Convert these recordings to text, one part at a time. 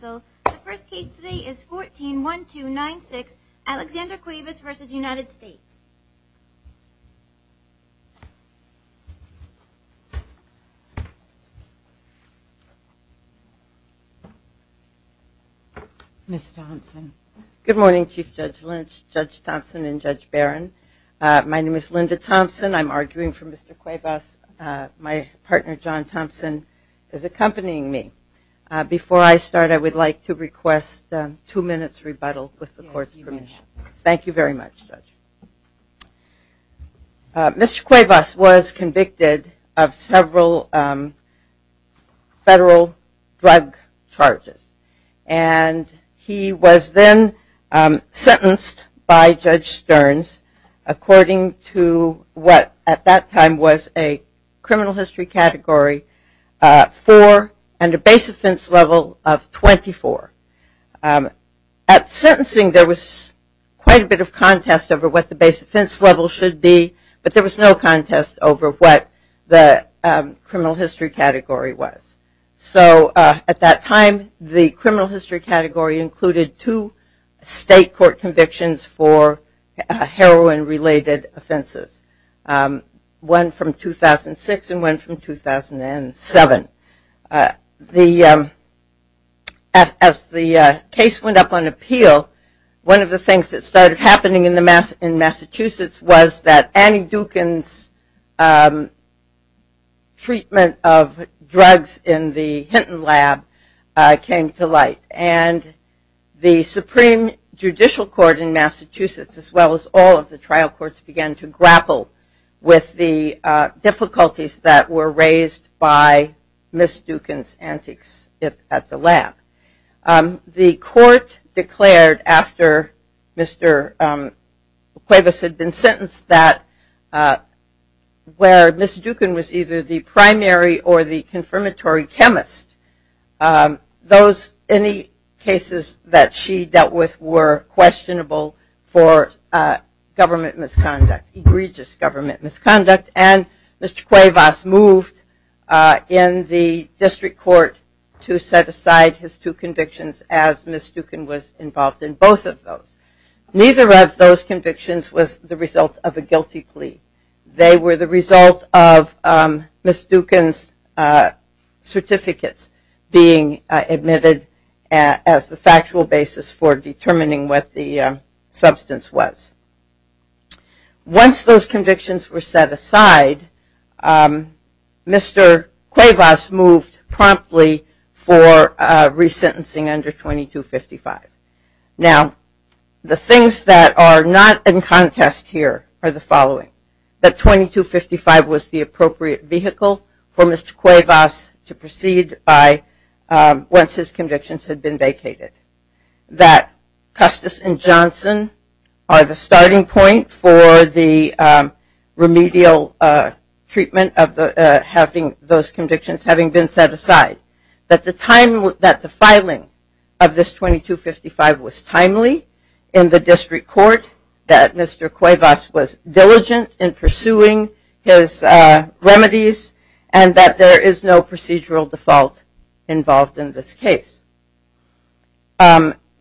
The first case today is 14-1296, Alexander Cuevas v. United States. Ms. Thompson. Good morning, Chief Judge Lynch, Judge Thompson, and Judge Barron. My name is Linda Thompson. I'm arguing for Mr. Cuevas. My partner, John Thompson, is accompanying me. Before I start, I would like to request two minutes rebuttal with the court's permission. Thank you very much, Judge. Mr. Cuevas was convicted of several federal drug charges, and he was then sentenced by Judge Stearns according to what at that time was a criminal history category for and a base offense level of 24. At sentencing, there was quite a bit of contest over what the base offense level should be, but there was no contest over what the criminal history category was. So at that time, the criminal history category included two state court convictions for heroin-related offenses, one from 2006 and one from 2007. As the case went up on appeal, one of the things that started happening in Massachusetts was that Annie Dukin's treatment of drugs in the Hinton Lab came to light, and the Supreme Judicial Court in Massachusetts, as well as all of the trial courts, began to grapple with the difficulties that were raised by Ms. Dukin's antics at the lab. The court declared after Mr. Cuevas had been sentenced that where Ms. Dukin was either the primary or the confirmatory chemist, any cases that she dealt with were questionable for egregious government misconduct, and Mr. Cuevas moved in the district court to set aside his two convictions as Ms. Dukin was involved in both of those. Neither of those convictions was the result of a guilty plea. They were the result of Ms. Dukin's certificates being admitted as the factual basis for determining what the substance was. Once those convictions were set aside, Mr. Cuevas moved promptly for resentencing under 2255. Now, the things that are not in contest here are the following. That 2255 was the appropriate vehicle for Mr. Cuevas to proceed by once his convictions had been vacated. That Custis and Johnson are the starting point for the remedial treatment of having those convictions having been set aside. That the filing of this 2255 was timely in the district court, that Mr. Cuevas was diligent in pursuing his remedies, and that there is no procedural default involved in this case.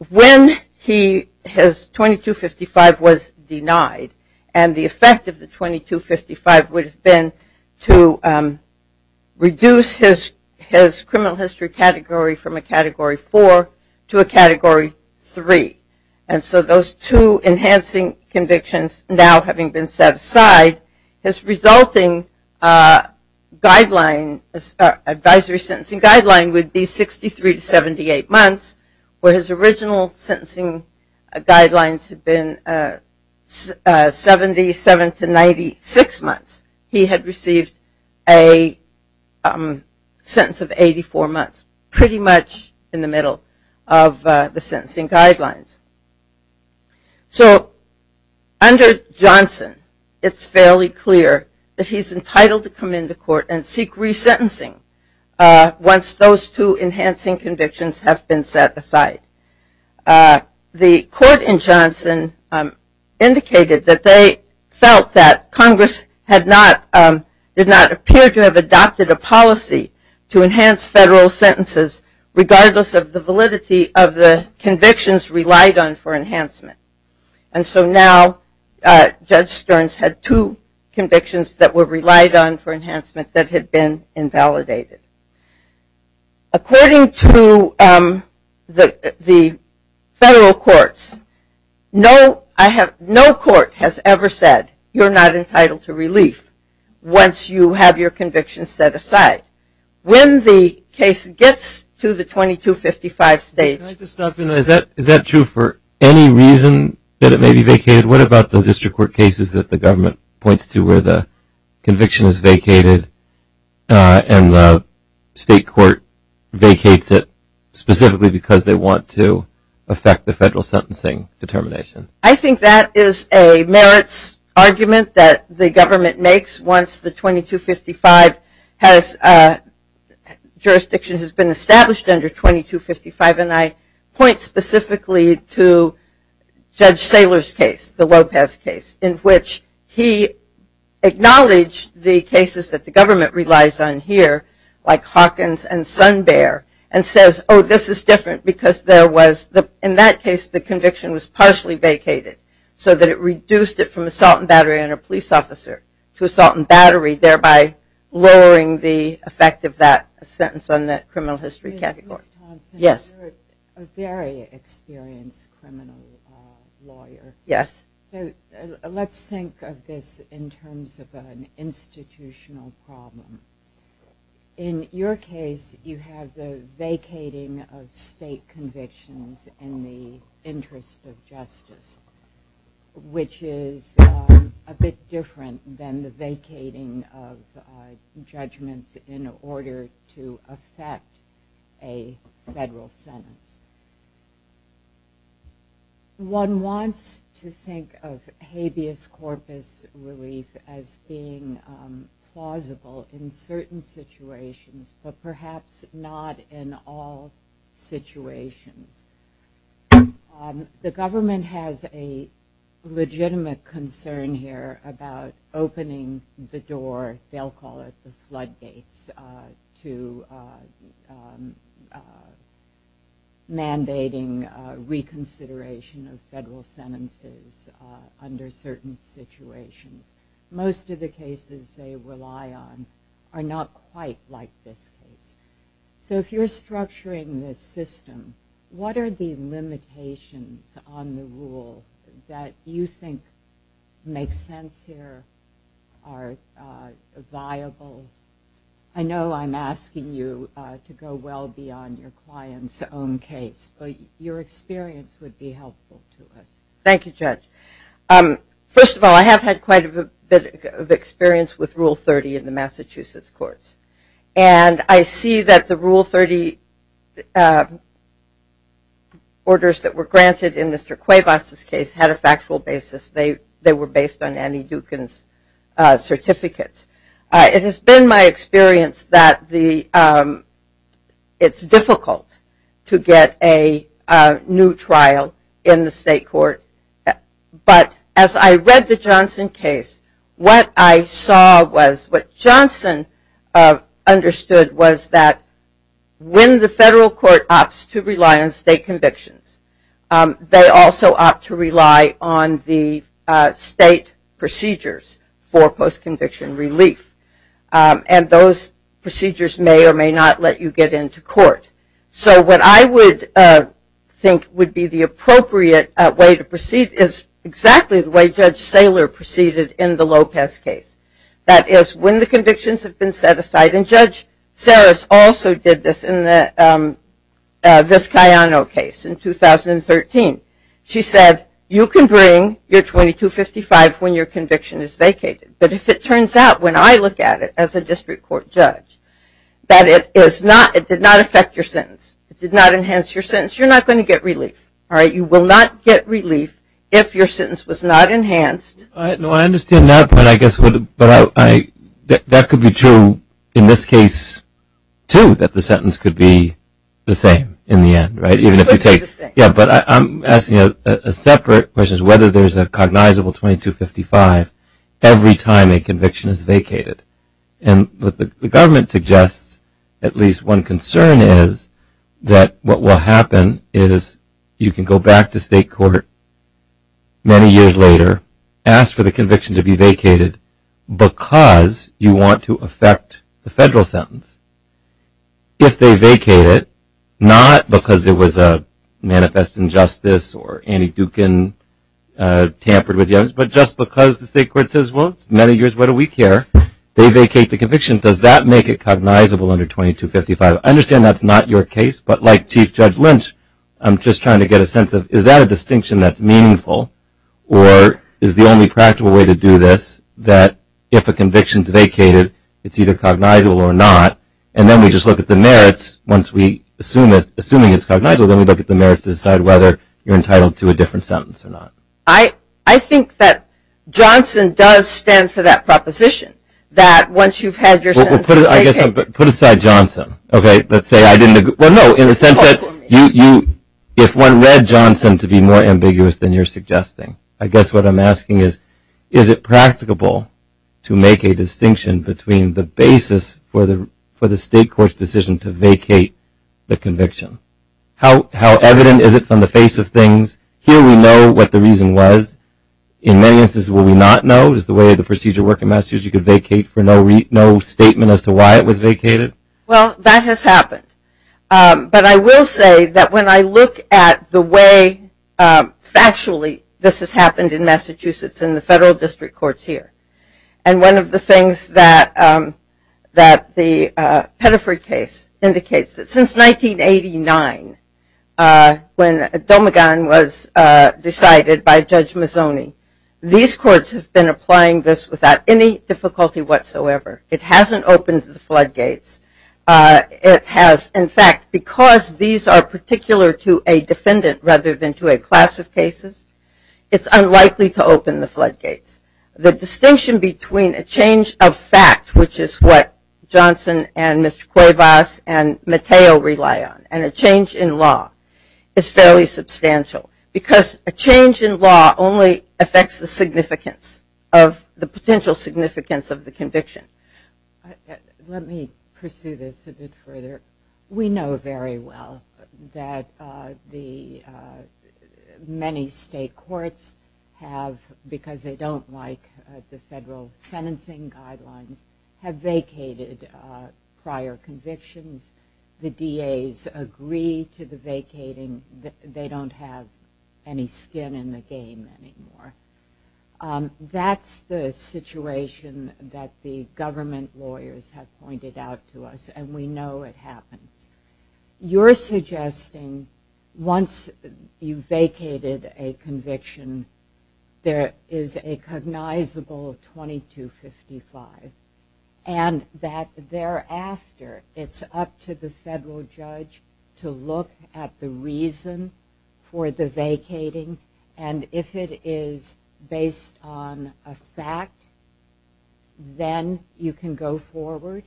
When his 2255 was denied, and the effect of the 2255 would have been to reduce his criminal history category from a Category 4 to a Category 3. And so those two enhancing convictions now having been set aside, his resulting advisory sentencing guideline would be 63 to 78 months, where his original sentencing guidelines had been 77 to 96 months. He had received a sentence of 84 months, pretty much in the middle of the sentencing guidelines. So under Johnson, it's fairly clear that he's entitled to come into court and seek resentencing once those two enhancing convictions have been set aside. The court in Johnson indicated that they felt that Congress did not appear to have adopted a policy to enhance federal sentences, regardless of the validity of the convictions relied on for enhancement. And so now Judge Stearns had two convictions that were relied on for enhancement that had been invalidated. According to the federal courts, no court has ever said you're not entitled to relief once you have your convictions set aside. When the case gets to the 2255 stage… Can I just stop you there? Is that true for any reason that it may be vacated? What about the district court cases that the government points to where the conviction is vacated and the state court vacates it specifically because they want to affect the federal sentencing determination? I think that is a merits argument that the government makes once the 2255 has… Judge Saylor's case, the Lopez case, in which he acknowledged the cases that the government relies on here, like Hawkins and Sun Bear, and says, oh, this is different because there was… In that case, the conviction was partially vacated, so that it reduced it from assault and battery on a police officer to assault and battery, thereby lowering the effect of that sentence on that criminal history category. You're a very experienced criminal lawyer. Yes. Let's think of this in terms of an institutional problem. In your case, you have the vacating of state convictions in the interest of justice, which is a bit different than the vacating of judgments in order to affect a federal sentence. One wants to think of habeas corpus relief as being plausible in certain situations, but perhaps not in all situations. The government has a legitimate concern here about opening the door, they'll call it the floodgates, to mandating reconsideration of federal sentences under certain situations. Most of the cases they rely on are not quite like this case. So if you're structuring this system, what are the limitations on the rule that you think make sense here, are viable? I know I'm asking you to go well beyond your client's own case, but your experience would be helpful to us. Thank you, Judge. First of all, I have had quite a bit of experience with Rule 30 in the Massachusetts courts, and I see that the Rule 30 orders that were granted in Mr. Cuevas' case had a factual basis. They were based on Annie Dukin's certificates. It has been my experience that it's difficult to get a new trial in the state court, but as I read the Johnson case, what I saw was what Johnson understood was that when the federal court opts to rely on state convictions, they also opt to rely on the state procedures for post-conviction relief, and those procedures may or may not let you get into court. So what I would think would be the appropriate way to proceed is exactly the way Judge Saylor proceeded in the Lopez case. That is, when the convictions have been set aside, and Judge Saylor also did this in the Vizcayano case in 2013. She said, you can bring your 2255 when your conviction is vacated, but if it turns out, when I look at it as a district court judge, that it did not affect your sentence. It did not enhance your sentence. You're not going to get relief. You will not get relief if your sentence was not enhanced. I understand that, but I guess that could be true in this case, too, that the sentence could be the same in the end, right? It could be the same. Yeah, but I'm asking a separate question, whether there's a cognizable 2255 every time a conviction is vacated. And what the government suggests, at least one concern is, that what will happen is you can go back to state court many years later, ask for the conviction to be vacated because you want to affect the federal sentence. If they vacate it, not because there was a manifest injustice or Andy Dukin tampered with the evidence, but just because the state court says, well, it's many years, what do we care? They vacate the conviction. Does that make it cognizable under 2255? I understand that's not your case, but like Chief Judge Lynch, I'm just trying to get a sense of, is that a distinction that's meaningful or is the only practical way to do this, that if a conviction is vacated, it's either cognizable or not, and then we just look at the merits. Once we assume it's cognizable, then we look at the merits to decide whether you're entitled to a different sentence or not. I think that Johnson does stand for that proposition, that once you've had your sentence vacated. Well, put aside Johnson, okay? Let's say I didn't agree. Well, no, in the sense that if one read Johnson to be more ambiguous than you're suggesting, I guess what I'm asking is, is it practicable to make a distinction between the basis for the state court's decision to vacate the conviction? How evident is it from the face of things? Here we know what the reason was. In many instances what we not know is the way the procedure worked in Massachusetts. You could vacate for no statement as to why it was vacated. Well, that has happened. But I will say that when I look at the way factually this has happened in Massachusetts in the federal district courts here, and one of the things that the Pettiford case indicates, that since 1989 when a domagon was decided by Judge Mazzoni, these courts have been applying this without any difficulty whatsoever. It hasn't opened the floodgates. It has, in fact, because these are particular to a defendant rather than to a class of cases, it's unlikely to open the floodgates. The distinction between a change of fact, which is what Johnson and Mr. Cuevas and Mateo rely on, and a change in law is fairly substantial, because a change in law only affects the significance of the potential significance of the conviction. Let me pursue this a bit further. We know very well that the many state courts have, because they don't like the federal sentencing guidelines, have vacated prior convictions. The DAs agree to the vacating. They don't have any skin in the game anymore. That's the situation that the government lawyers have pointed out to us, and we know it happens. You're suggesting once you've vacated a conviction, there is a cognizable 2255, and that thereafter it's up to the federal judge to look at the reason for the vacating, and if it is based on a fact, then you can go forward?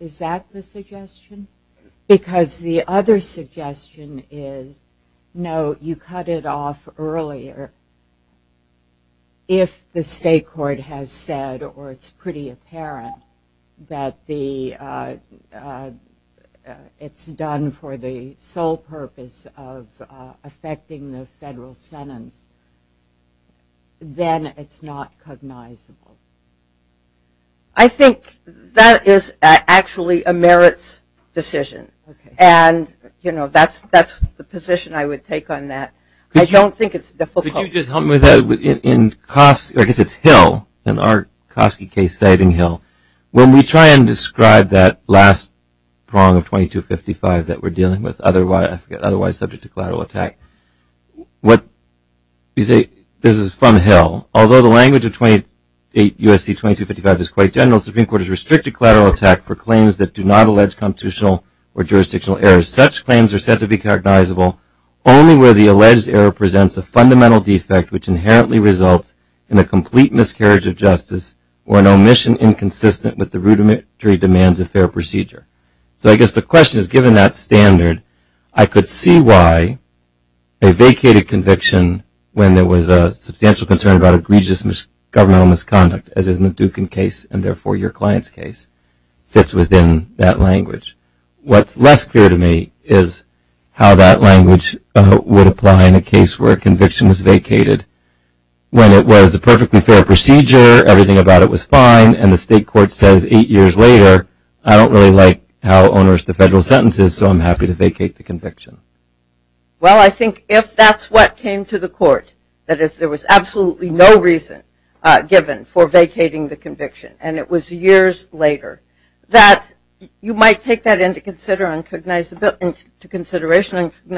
Is that the suggestion? Because the other suggestion is, no, you cut it off earlier. If the state court has said, or it's pretty apparent, that it's done for the sole purpose of affecting the federal sentence, then it's not cognizable. I think that is actually a merits decision, and that's the position I would take on that. I don't think it's difficult. Could you just help me with that? I guess it's Hill, in our Kofsky case, citing Hill. When we try and describe that last prong of 2255 that we're dealing with, otherwise subject to collateral attack, you say this is from Hill. Although the language of 28 U.S.C. 2255 is quite general, the Supreme Court has restricted collateral attack for claims that do not allege constitutional or jurisdictional errors. Such claims are said to be cognizable only where the alleged error presents a fundamental defect which inherently results in a complete miscarriage of justice or an omission inconsistent with the rudimentary demands of fair procedure. So I guess the question is, given that standard, I could see why a vacated conviction when there was a substantial concern about egregious governmental misconduct, as in the Dukin case and therefore your client's case, fits within that language. What's less clear to me is how that language would apply in a case where a conviction was vacated when it was a perfectly fair procedure, everything about it was fine, and the state court says eight years later, I don't really like how onerous the federal sentence is, so I'm happy to vacate the conviction. Well, I think if that's what came to the court, that is there was absolutely no reason given for vacating the conviction and it was years later, that you might take that into consideration on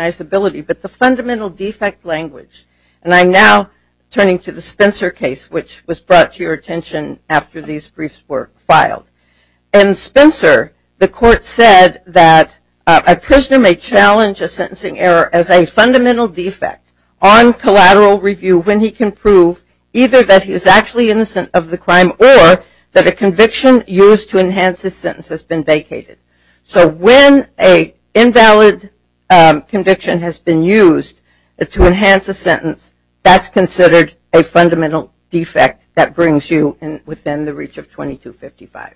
cognizability, but the fundamental defect language, and I'm now turning to the Spencer case which was brought to your attention after these briefs were filed. In Spencer, the court said that a prisoner may challenge a sentencing error as a fundamental defect on collateral review when he can prove either that he is actually innocent of the crime or that a conviction used to enhance his sentence has been vacated. So when an invalid conviction has been used to enhance a sentence, that's considered a fundamental defect that brings you within the reach of 2255.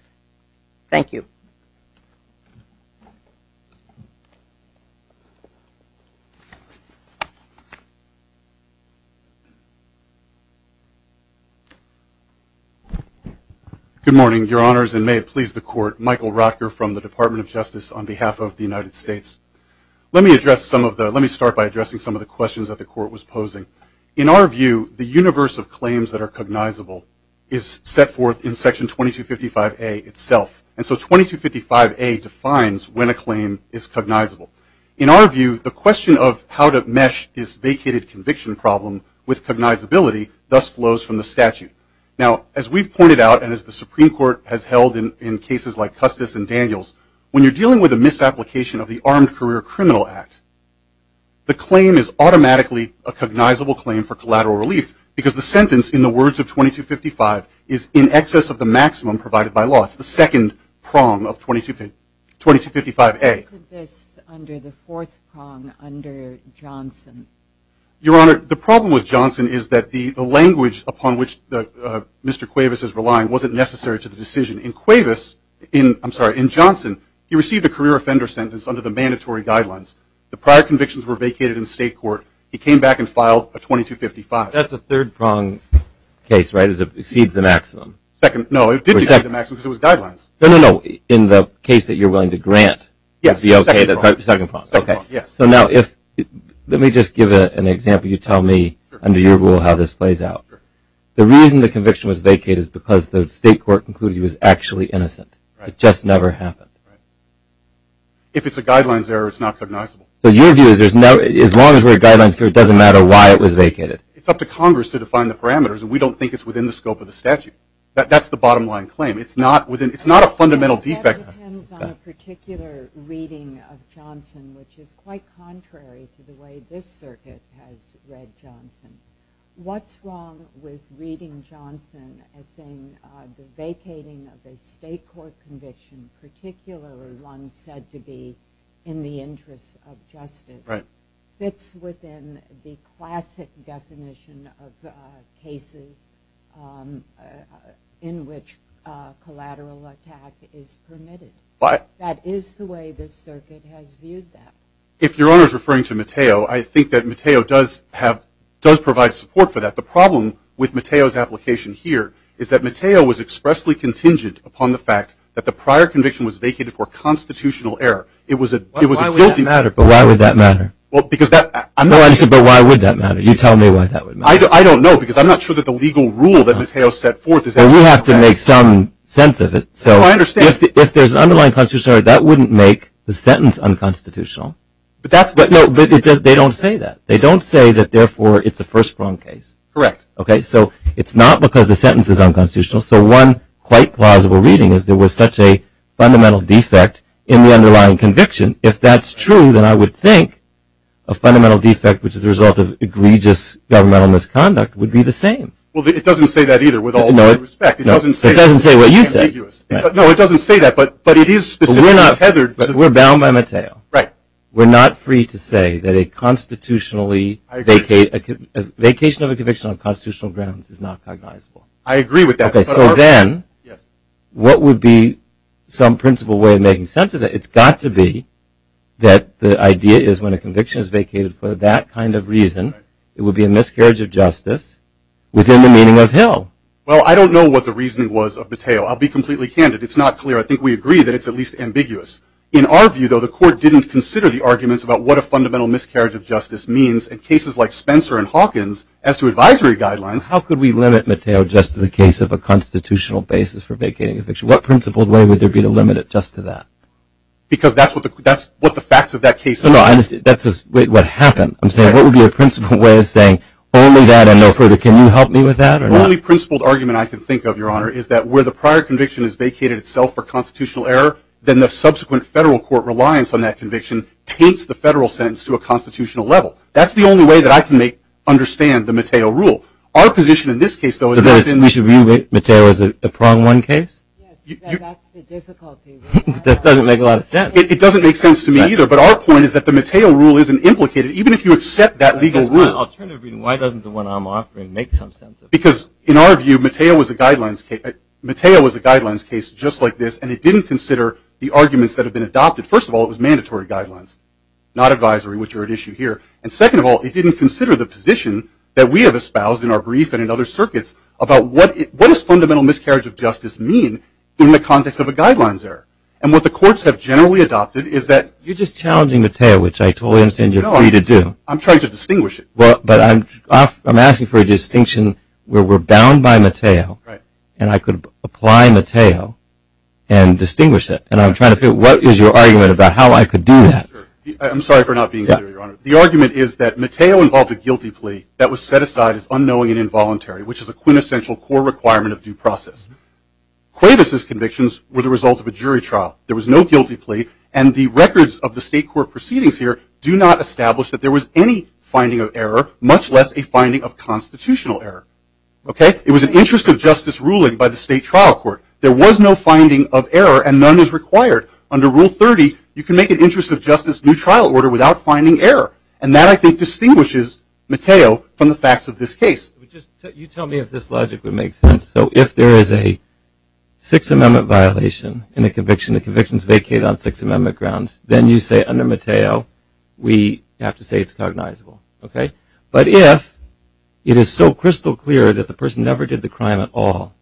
Thank you. Good morning, Your Honors, and may it please the court, Michael Rocker from the Department of Justice on behalf of the United States. Let me start by addressing some of the questions that the court was posing. In our view, the universe of claims that are cognizable is set forth in Section 2255A itself, and so 2255A defines when a claim is cognizable. In our view, the question of how to mesh this vacated conviction problem with cognizability thus flows from the statute. Now, as we've pointed out and as the Supreme Court has held in cases like The claim is automatically a cognizable claim for collateral relief because the sentence, in the words of 2255, is in excess of the maximum provided by law. It's the second prong of 2255A. Your Honor, the problem with Johnson is that the language upon which Mr. Cuevas is relying wasn't necessary to the decision. In Cuevas, I'm sorry, in Johnson, he received a career offender sentence under the mandatory guidelines. The prior convictions were vacated in the state court. He came back and filed a 2255. That's a third prong case, right? It exceeds the maximum. No, it did exceed the maximum because it was guidelines. No, no, no. In the case that you're willing to grant, it would be okay. Yes, the second prong. The second prong. Okay. Yes. So now, let me just give an example. You tell me, under your rule, how this plays out. The reason the conviction was vacated is because the state court concluded he was actually innocent. It just never happened. If it's a guidelines error, it's not cognizable. So your view is as long as we're guidelines, it doesn't matter why it was vacated. It's up to Congress to define the parameters, and we don't think it's within the scope of the statute. That's the bottom line claim. It's not a fundamental defect. That depends on a particular reading of Johnson, which is quite contrary to the way this circuit has read Johnson. What's wrong with reading Johnson as saying the vacating of a state court conviction, particularly one said to be in the interest of justice, fits within the classic definition of cases in which collateral attack is permitted. That is the way this circuit has viewed that. If Your Honor is referring to Mateo, I think that Mateo does provide support for that. The problem with Mateo's application here is that the prior conviction was vacated for constitutional error. Why would that matter? I'm not sure. But why would that matter? You tell me why that would matter. I don't know because I'm not sure that the legal rule that Mateo set forth. Well, you have to make some sense of it. No, I understand. If there's an underlying constitutional error, that wouldn't make the sentence unconstitutional. But they don't say that. They don't say that therefore it's a first-prong case. Correct. Okay, so it's not because the sentence is unconstitutional. So one quite plausible reading is there was such a fundamental defect in the underlying conviction. If that's true, then I would think a fundamental defect, which is the result of egregious governmental misconduct, would be the same. Well, it doesn't say that either with all due respect. It doesn't say that. It doesn't say what you said. No, it doesn't say that. But it is specifically tethered. We're bound by Mateo. Right. We're not free to say that a constitutionally vacated conviction on constitutional grounds is not cognizable. I agree with that. Okay, so then what would be some principal way of making sense of it? It's got to be that the idea is when a conviction is vacated for that kind of reason, it would be a miscarriage of justice within the meaning of Hill. Well, I don't know what the reasoning was of Mateo. I'll be completely candid. It's not clear. I think we agree that it's at least ambiguous. In our view, though, the Court didn't consider the arguments about what a fundamental miscarriage of justice means in cases like Spencer and Hawkins as to advisory guidelines. How could we limit Mateo just to the case of a constitutional basis for vacating a conviction? What principled way would there be to limit it just to that? Because that's what the facts of that case are. No, that's what happened. I'm saying what would be a principled way of saying only that and no further? Can you help me with that? The only principled argument I can think of, Your Honor, is that where the prior conviction is vacated itself for constitutional error, then the subsequent federal court reliance on that conviction taints the federal sentence to a constitutional level. That's the only way that I can understand the Mateo rule. Our position in this case, though, is that it's in the We should view Mateo as a prong one case? Yes, that's the difficulty. This doesn't make a lot of sense. It doesn't make sense to me either, but our point is that the Mateo rule isn't implicated, even if you accept that legal rule. Why doesn't the one I'm offering make some sense? Because, in our view, Mateo was a guidelines case just like this, and it didn't consider the arguments that have been adopted. First of all, it was mandatory guidelines, not advisory, which are at issue here. And second of all, it didn't consider the position that we have espoused in our brief and in other circuits about what does fundamental miscarriage of justice mean in the context of a guidelines error. And what the courts have generally adopted is that You're just challenging Mateo, which I totally understand you're free to do. No, I'm trying to distinguish it. But I'm asking for a distinction where we're bound by Mateo, and I could apply Mateo and distinguish it. And I'm trying to figure out what is your argument about how I could do that. I'm sorry for not being clear, Your Honor. The argument is that Mateo involved a guilty plea that was set aside as unknowing and involuntary, which is a quintessential core requirement of due process. Cuevas' convictions were the result of a jury trial. There was no guilty plea, and the records of the state court proceedings here do not establish that there was any finding of error, much less a finding of constitutional error. It was an interest of justice ruling by the state trial court. There was no finding of error, and none is required. Under Rule 30, you can make an interest of justice new trial order without finding error. And that, I think, distinguishes Mateo from the facts of this case. You tell me if this logic would make sense. So if there is a Sixth Amendment violation in a conviction, the convictions vacate on Sixth Amendment grounds, then you say under Mateo, we have to say it's cognizable. But if it is so crystal clear that the person never did the crime at all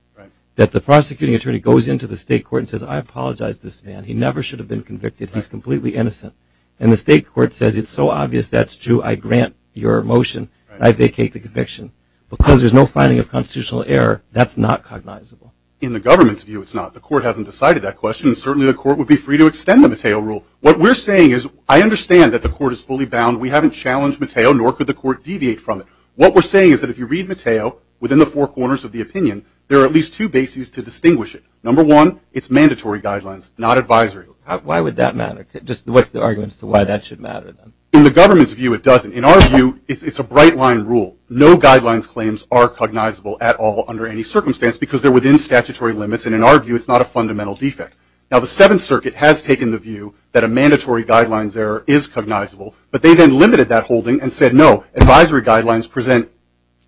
that the prosecuting attorney goes into the state court and says, I apologize, this man, he never should have been convicted, he's completely innocent, and the state court says it's so obvious that's true, I grant your motion, I vacate the conviction, because there's no finding of constitutional error, that's not cognizable. In the government's view, it's not. The court hasn't decided that question, and certainly the court would be free to extend the Mateo Rule. What we're saying is I understand that the court is fully bound. We haven't challenged Mateo, nor could the court deviate from it. What we're saying is that if you read Mateo, within the four corners of the opinion, there are at least two bases to distinguish it. Number one, it's mandatory guidelines, not advisory. Why would that matter? Just what's the argument as to why that should matter? In the government's view, it doesn't. In our view, it's a bright-line rule. No guidelines claims are cognizable at all under any circumstance because they're within statutory limits, and in our view, it's not a fundamental defect. Now, the Seventh Circuit has taken the view that a mandatory guidelines error is cognizable, but they then limited that holding and said, no, advisory guidelines present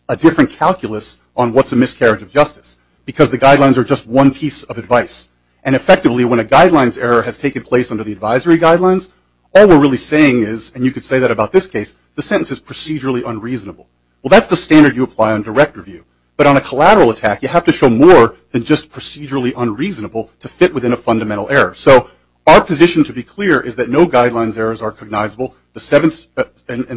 a different calculus on what's a miscarriage of justice because the guidelines are just one piece of advice. And effectively, when a guidelines error has taken place under the advisory guidelines, all we're really saying is, and you could say that about this case, the sentence is procedurally unreasonable. Well, that's the standard you apply on direct review. But on a collateral attack, you have to show more than just procedurally unreasonable to fit within a fundamental error. So our position, to be clear, is that no guidelines errors are cognizable, and the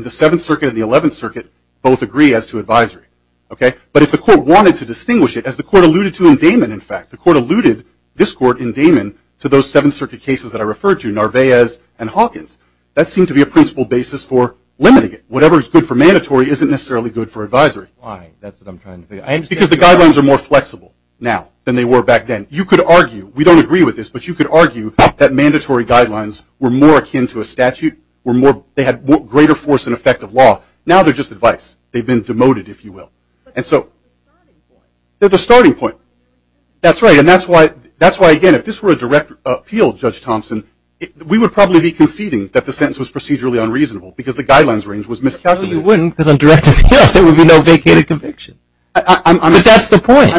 Seventh Circuit and the Eleventh Circuit both agree as to advisory. Okay? But if the court wanted to distinguish it, as the court alluded to in Damon, in fact, the court alluded, this court in Damon, to those Seventh Circuit cases that I referred to, Narvaez and Hawkins, that seemed to be a principle basis for limiting it. Whatever is good for mandatory isn't necessarily good for advisory. Why? That's what I'm trying to figure out. Because the guidelines are more flexible now than they were back then. You could argue, we don't agree with this, but you could argue that mandatory guidelines were more akin to a statute. They had greater force and effect of law. Now they're just advice. They've been demoted, if you will. And so they're the starting point. That's right. And that's why, again, if this were a direct appeal, Judge Thompson, we would probably be conceding that the sentence was procedurally unreasonable because the guidelines range was miscalculated. No, you wouldn't, because on directive appeals there would be no vacated conviction. But that's the point.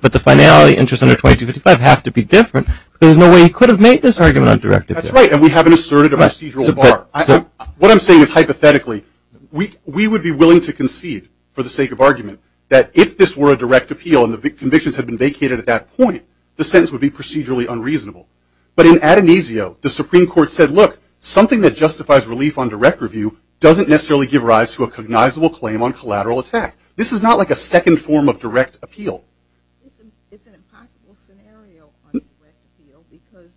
But the finality interest under 2255 have to be different. There's no way he could have made this argument on directive appeals. That's right. And we haven't asserted a procedural bar. What I'm saying is, hypothetically, we would be willing to concede, for the sake of argument, that if this were a direct appeal and the convictions had been vacated at that point, the sentence would be procedurally unreasonable. But in Adonisio, the Supreme Court said, look, something that justifies relief on direct review doesn't necessarily give rise to a cognizable claim on collateral attack. This is not like a second form of direct appeal. It's an impossible scenario on direct appeal because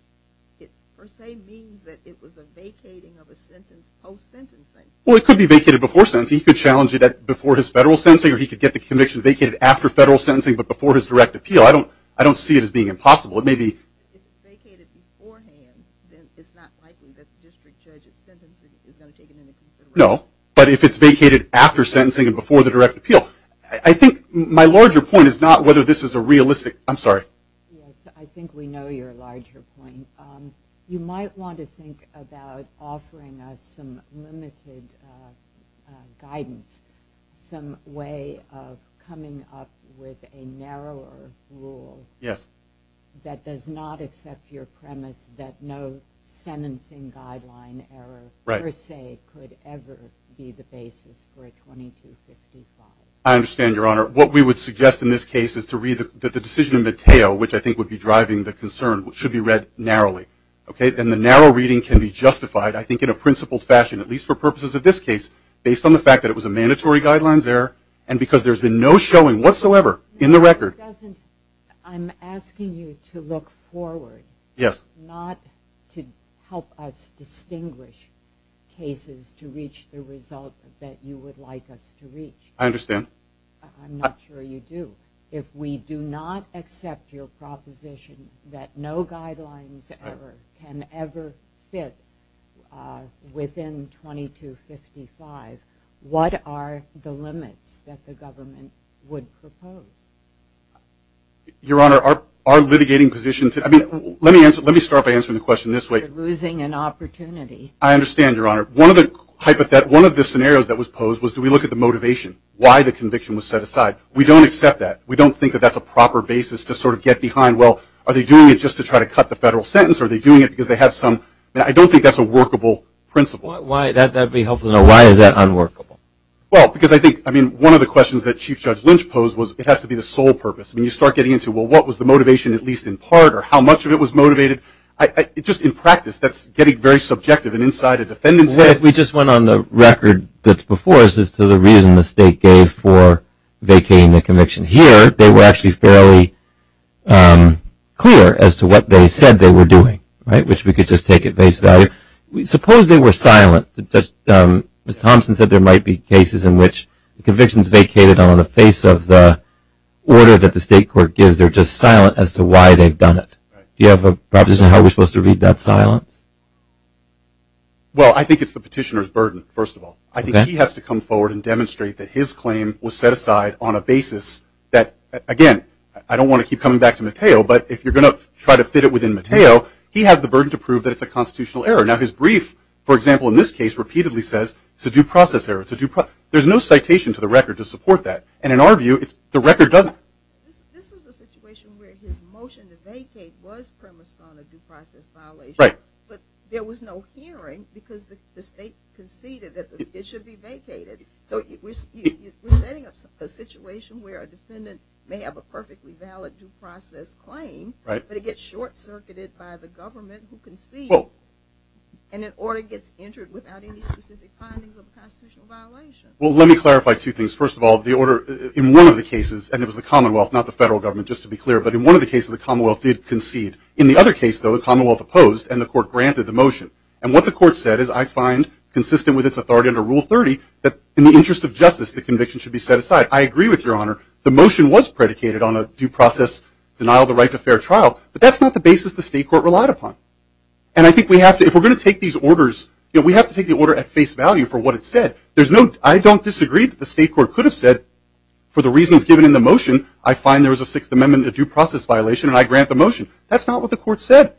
it per se means that it was a vacating of a sentence post-sentencing. Well, it could be vacated before sentencing. He could challenge it before his federal sentencing, or he could get the conviction vacated after federal sentencing but before his direct appeal. I don't see it as being impossible. If it's vacated beforehand, then it's not likely that the district judge's sentence is not taken into consideration. No, but if it's vacated after sentencing and before the direct appeal. I think my larger point is not whether this is a realistic – I'm sorry. Yes, I think we know your larger point. You might want to think about offering us some limited guidance, some way of coming up with a narrower rule that does not accept your premise that no sentencing guideline error per se could ever be the basis for a 2255. I understand, Your Honor. What we would suggest in this case is to read the decision in Mateo, which I think would be driving the concern, which should be read narrowly. And the narrow reading can be justified, I think, in a principled fashion, at least for purposes of this case, based on the fact that it was a mandatory guidelines error and because there's been no showing whatsoever in the record. I'm asking you to look forward, I understand. I'm not sure you do. If we do not accept your proposition that no guidelines error can ever fit within 2255, what are the limits that the government would propose? Your Honor, our litigating position – I mean, let me start by answering the question this way. You're losing an opportunity. I understand, Your Honor. One of the scenarios that was posed was do we look at the motivation, why the conviction was set aside. We don't accept that. We don't think that that's a proper basis to sort of get behind, well, are they doing it just to try to cut the federal sentence, or are they doing it because they have some – I don't think that's a workable principle. Why is that unworkable? Well, because I think, I mean, one of the questions that Chief Judge Lynch posed was it has to be the sole purpose. When you start getting into, well, what was the motivation at least in part or how much of it was motivated, just in practice that's getting very subjective and inside a defendant's head. Well, if we just went on the record that's before us as to the reason the state gave for vacating the conviction. Here they were actually fairly clear as to what they said they were doing, right, which we could just take at face value. Suppose they were silent. Ms. Thompson said there might be cases in which convictions vacated on the face of the order that the state court gives. They're just silent as to why they've done it. Do you have a proposition on how we're supposed to read that silence? Well, I think it's the petitioner's burden, first of all. I think he has to come forward and demonstrate that his claim was set aside on a basis that, again, I don't want to keep coming back to Mateo, but if you're going to try to fit it within Mateo, he has the burden to prove that it's a constitutional error. Now, his brief, for example, in this case, repeatedly says it's a due process error. There's no citation to the record to support that, and in our view the record doesn't. This is a situation where his motion to vacate was premised on a due process violation, but there was no hearing because the state conceded that it should be vacated. So we're setting up a situation where a defendant may have a perfectly valid due process claim, but it gets short-circuited by the government who concedes, and an order gets entered without any specific findings of a constitutional violation. Well, let me clarify two things. First of all, the order in one of the cases, and it was the Commonwealth, not the federal government, just to be clear, but in one of the cases the Commonwealth did concede. In the other case, though, the Commonwealth opposed, and the court granted the motion. And what the court said is, I find consistent with its authority under Rule 30 that in the interest of justice the conviction should be set aside. I agree with Your Honor. The motion was predicated on a due process denial of the right to fair trial, but that's not the basis the state court relied upon. And I think we have to, if we're going to take these orders, we have to take the order at face value for what it said. There's no, I don't disagree that the state court could have said, for the reasons given in the motion, I find there is a Sixth Amendment, a due process violation, and I grant the motion. That's not what the court said.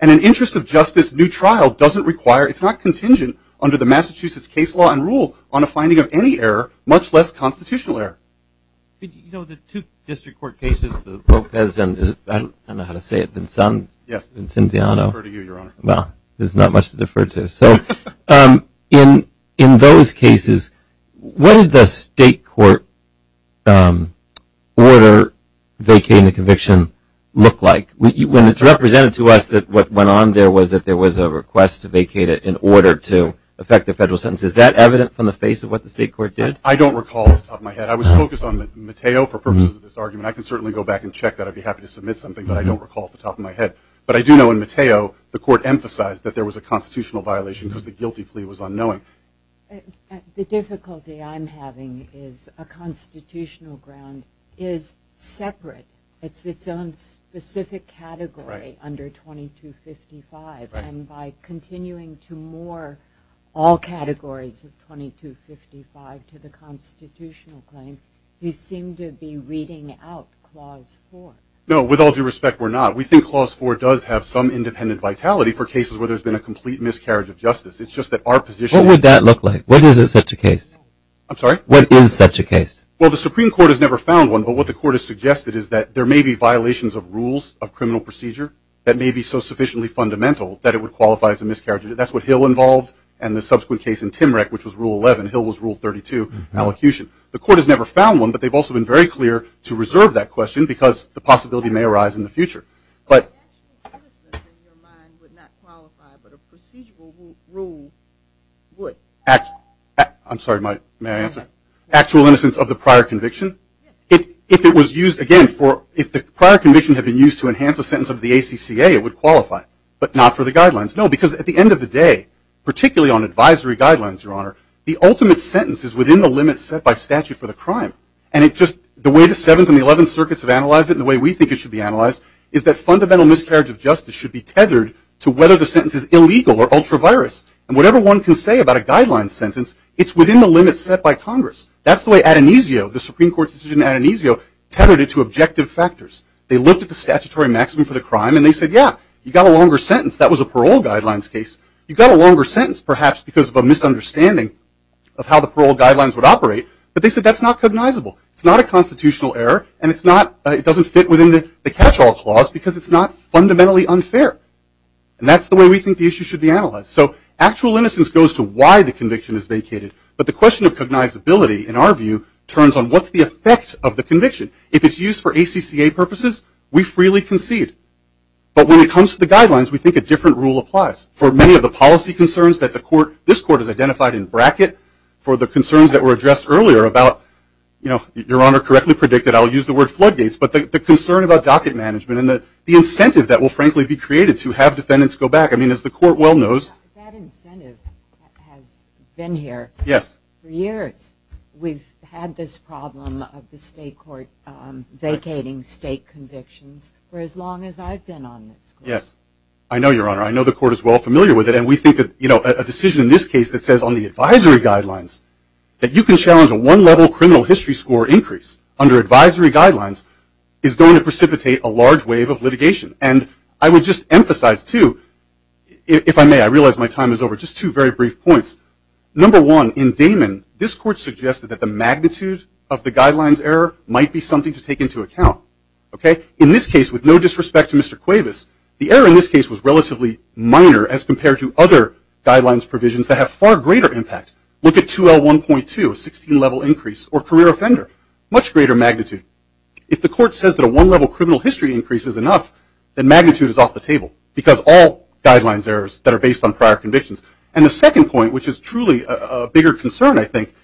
And in interest of justice, new trial doesn't require, it's not contingent under the Massachusetts case law and rule on a finding of any error, much less constitutional error. You know, the two district court cases, the Lopez and, I don't know how to say it, Vincenziano. Yes, Vincenziano. I'll defer to you, Your Honor. Well, there's not much to defer to. So in those cases, what did the state court order vacating the conviction look like? When it's represented to us that what went on there was that there was a request to vacate it in order to effect a federal sentence. Is that evident from the face of what the state court did? I don't recall off the top of my head. I was focused on Mateo for purposes of this argument. I can certainly go back and check that. I'd be happy to submit something, but I don't recall off the top of my head. But I do know in Mateo, the court emphasized that there was a constitutional violation because the guilty plea was unknowing. The difficulty I'm having is a constitutional ground is separate. It's its own specific category under 2255. And by continuing to moor all categories of 2255 to the constitutional claim, you seem to be reading out Clause 4. No, with all due respect, we're not. We think Clause 4 does have some independent vitality for cases where there's been a complete miscarriage of justice. It's just that our position is- What would that look like? What is such a case? I'm sorry? What is such a case? Well, the Supreme Court has never found one, but what the court has suggested is that there may be violations of rules of criminal procedure that may be so sufficiently fundamental that it would qualify as a miscarriage. That's what Hill involved and the subsequent case in Timrek, which was Rule 11. Hill was Rule 32, allocution. The court has never found one, but they've also been very clear to reserve that question because the possibility may arise in the future. But- Actual innocence in your mind would not qualify, but a procedural rule would. Actual- I'm sorry, may I answer? Actual innocence of the prior conviction? Yes. If it was used, again, for- if the prior conviction had been used to enhance a sentence of the ACCA, it would qualify, but not for the guidelines. No, because at the end of the day, particularly on advisory guidelines, Your Honor, the ultimate sentence is within the limits set by statute for the crime. And it just- the way the Seventh and the Eleventh Circuits have analyzed it, the way we think it should be analyzed, is that fundamental miscarriage of justice should be tethered to whether the sentence is illegal or ultra-virus. And whatever one can say about a guidelines sentence, it's within the limits set by Congress. That's the way Adonisio, the Supreme Court's decision in Adonisio, tethered it to objective factors. They looked at the statutory maximum for the crime and they said, yeah, you got a longer sentence. That was a parole guidelines case. You got a longer sentence, perhaps because of a misunderstanding of how the It's not a constitutional error and it's not- it doesn't fit within the catch-all clause because it's not fundamentally unfair. And that's the way we think the issue should be analyzed. So actual innocence goes to why the conviction is vacated. But the question of cognizability, in our view, turns on what's the effect of the conviction. If it's used for ACCA purposes, we freely concede. But when it comes to the guidelines, we think a different rule applies. For many of the policy concerns that the court- this court has identified in Your Honor, correctly predicted, I'll use the word floodgates, but the concern about docket management and the incentive that will, frankly, be created to have defendants go back. I mean, as the court well knows- That incentive has been here for years. We've had this problem of the state court vacating state convictions for as long as I've been on this court. Yes, I know, Your Honor. I know the court is well familiar with it. And we think that, you know, a decision in this case that says on the advisory guidelines that you can challenge a one-level criminal history score increase under advisory guidelines is going to precipitate a large wave of litigation. And I would just emphasize, too, if I may, I realize my time is over, just two very brief points. Number one, in Damon, this court suggested that the magnitude of the guidelines error might be something to take into account. Okay? In this case, with no disrespect to Mr. Cuevas, the error in this case was relatively minor as compared to other guidelines provisions that have far greater impact. Look at 2L1.2, a 16-level increase, or career offender, much greater magnitude. If the court says that a one-level criminal history increase is enough, then magnitude is off the table because all guidelines errors that are based on prior convictions. And the second point, which is truly a bigger concern, I think,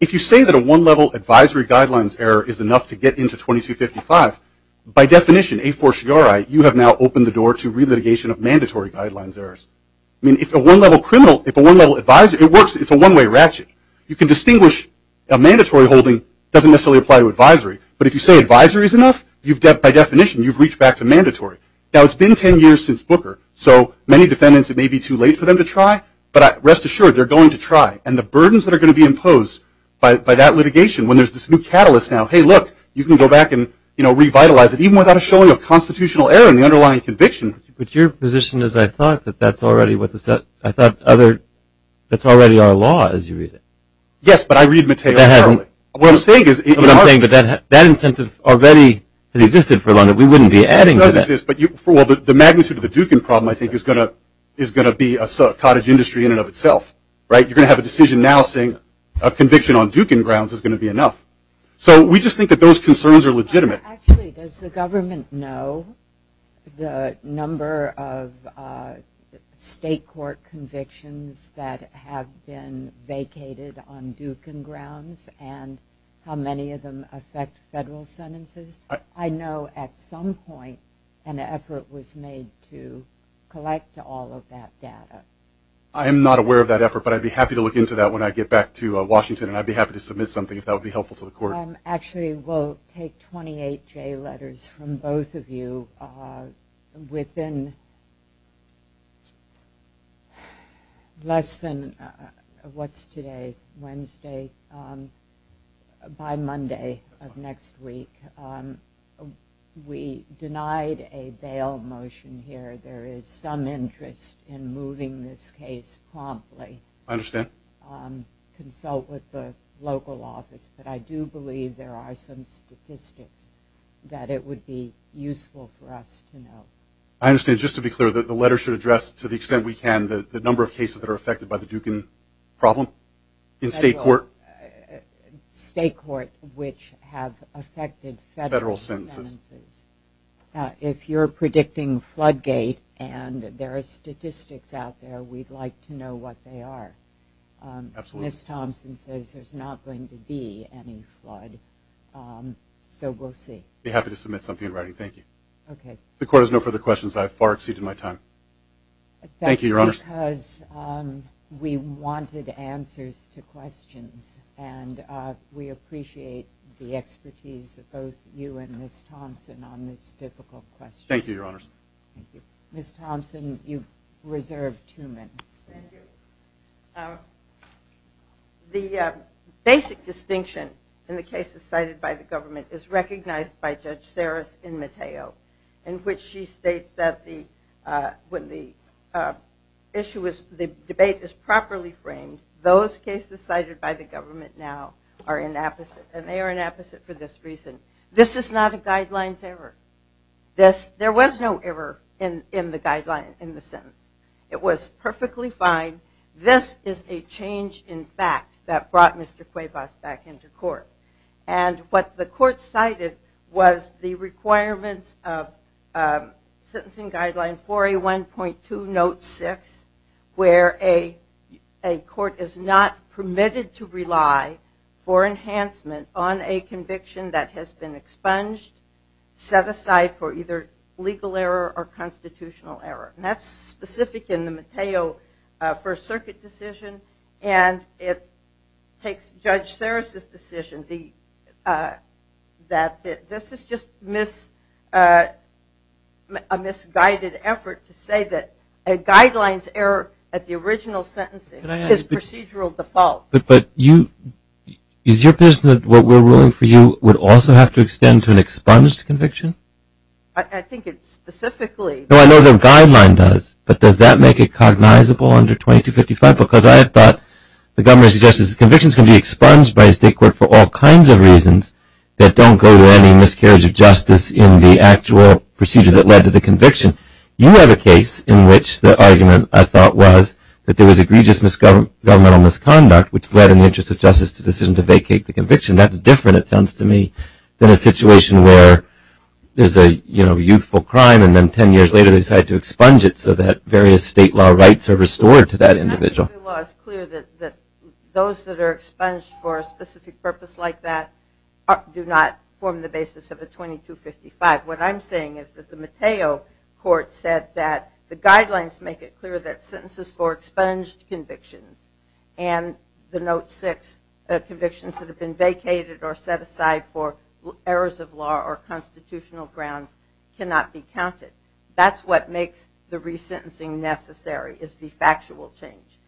if you say that a one-level advisory guidelines error is enough to get into 2255, by definition, a fortiori, you have now opened the door to relitigation of mandatory guidelines errors. I mean, if a one-level criminal, if a one-level advisory, it works, it's a one-way ratchet. You can distinguish a mandatory holding doesn't necessarily apply to advisory. But if you say advisory is enough, you've, by definition, you've reached back to mandatory. Now, it's been 10 years since Booker, so many defendants, it may be too late for them to try, but rest assured, they're going to try. And the burdens that are going to be imposed by that litigation, when there's this new catalyst now, hey, look, you can go back and, you know, revitalize it even without a showing of constitutional error in the underlying conviction. But your position is, I thought, that that's already what the set, I thought other, that's already our law as you read it. Yes, but I read Mateo early. What I'm saying is. What I'm saying is that that incentive already has existed for a long time. We wouldn't be adding to that. It doesn't exist. Well, the magnitude of the Dukin problem, I think, is going to be a cottage industry in and of itself. Right? You're going to have a decision now saying a conviction on Dukin grounds is going to be enough. So, we just think that those concerns are legitimate. Actually, does the government know the number of state court convictions that have been vacated on Dukin grounds and how many of them affect federal sentences? I know at some point an effort was made to collect all of that data. I am not aware of that effort, but I'd be happy to look into that when I get back to Washington and I'd be happy to submit something if that would be helpful to the court. Actually, we'll take 28 J letters from both of you within less than what's today, Wednesday, by Monday of next week. We denied a bail motion here. There is some interest in moving this case promptly. I understand. Consult with the local office. But I do believe there are some statistics that it would be useful for us to know. I understand. Just to be clear, the letter should address, to the extent we can, the number of cases that are affected by the Dukin problem in state court? State court which have affected federal sentences. If you're predicting floodgate and there are statistics out there, we'd like to know what they are. Absolutely. Ms. Thompson says there's not going to be any flood, so we'll see. I'd be happy to submit something in writing. Thank you. Okay. The court has no further questions. I have far exceeded my time. Thank you, Your Honors. That's because we wanted answers to questions, and we appreciate the expertise of both you and Ms. Thompson on this difficult question. Thank you, Your Honors. Thank you. Ms. Thompson, you've reserved two minutes. Thank you. The basic distinction in the cases cited by the government is recognized by Judge Saris in Mateo, in which she states that when the debate is properly framed, those cases cited by the government now are inapposite, and they are inapposite for this reason. This is not a guidelines error. There was no error in the guideline, in the sentence. It was perfectly fine. This is a change in fact that brought Mr. Cuevas back into court. And what the court cited was the requirements of Sentencing Guideline 4A1.2 Note 6, where a court is not permitted to rely for enhancement on a conviction that has been expunged, set aside for either legal error or constitutional error. And that's specific in the Mateo First Circuit decision, and it takes Judge Saris's decision that this is just a misguided effort to say that a guidelines error at the original sentencing is procedural default. But is your position that what we're ruling for you would also have to extend to an expunged conviction? I think it's specifically. No, I know the guideline does, but does that make it cognizable under 2255? Because I thought the government suggested convictions can be expunged by a state court for all kinds of reasons that don't go to any miscarriage of justice in the actual procedure that led to the conviction. You have a case in which the argument, I thought, was that there was egregious governmental misconduct, which led in the interest of justice the decision to vacate the conviction. That's different, it sounds to me, than a situation where there's a youthful crime, and then ten years later they decide to expunge it so that various state law rights are restored to that individual. That particular law is clear that those that are expunged for a specific purpose like that do not form the basis of a 2255. What I'm saying is that the Mateo Court said that the guidelines make it clear that sentences for expunged convictions and the Note 6 convictions that have been vacated or set aside for errors of law or constitutional grounds cannot be counted. That's what makes the resentencing necessary is the factual change.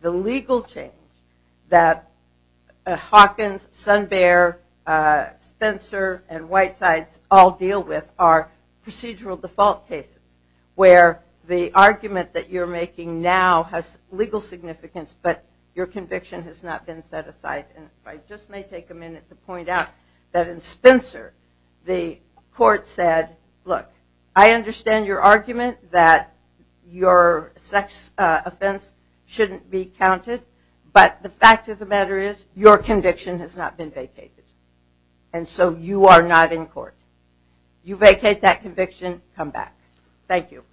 The legal change that Hawkins, Sunbear, Spencer, and Whitesides all deal with are procedural default cases where the argument that you're making now has legal significance but your conviction has not been set aside. I just may take a minute to point out that in Spencer the court said, look, I understand your argument that your sex offense shouldn't be counted, but the fact of the matter is your conviction has not been vacated. And so you are not in court. You vacate that conviction, come back. Thank you.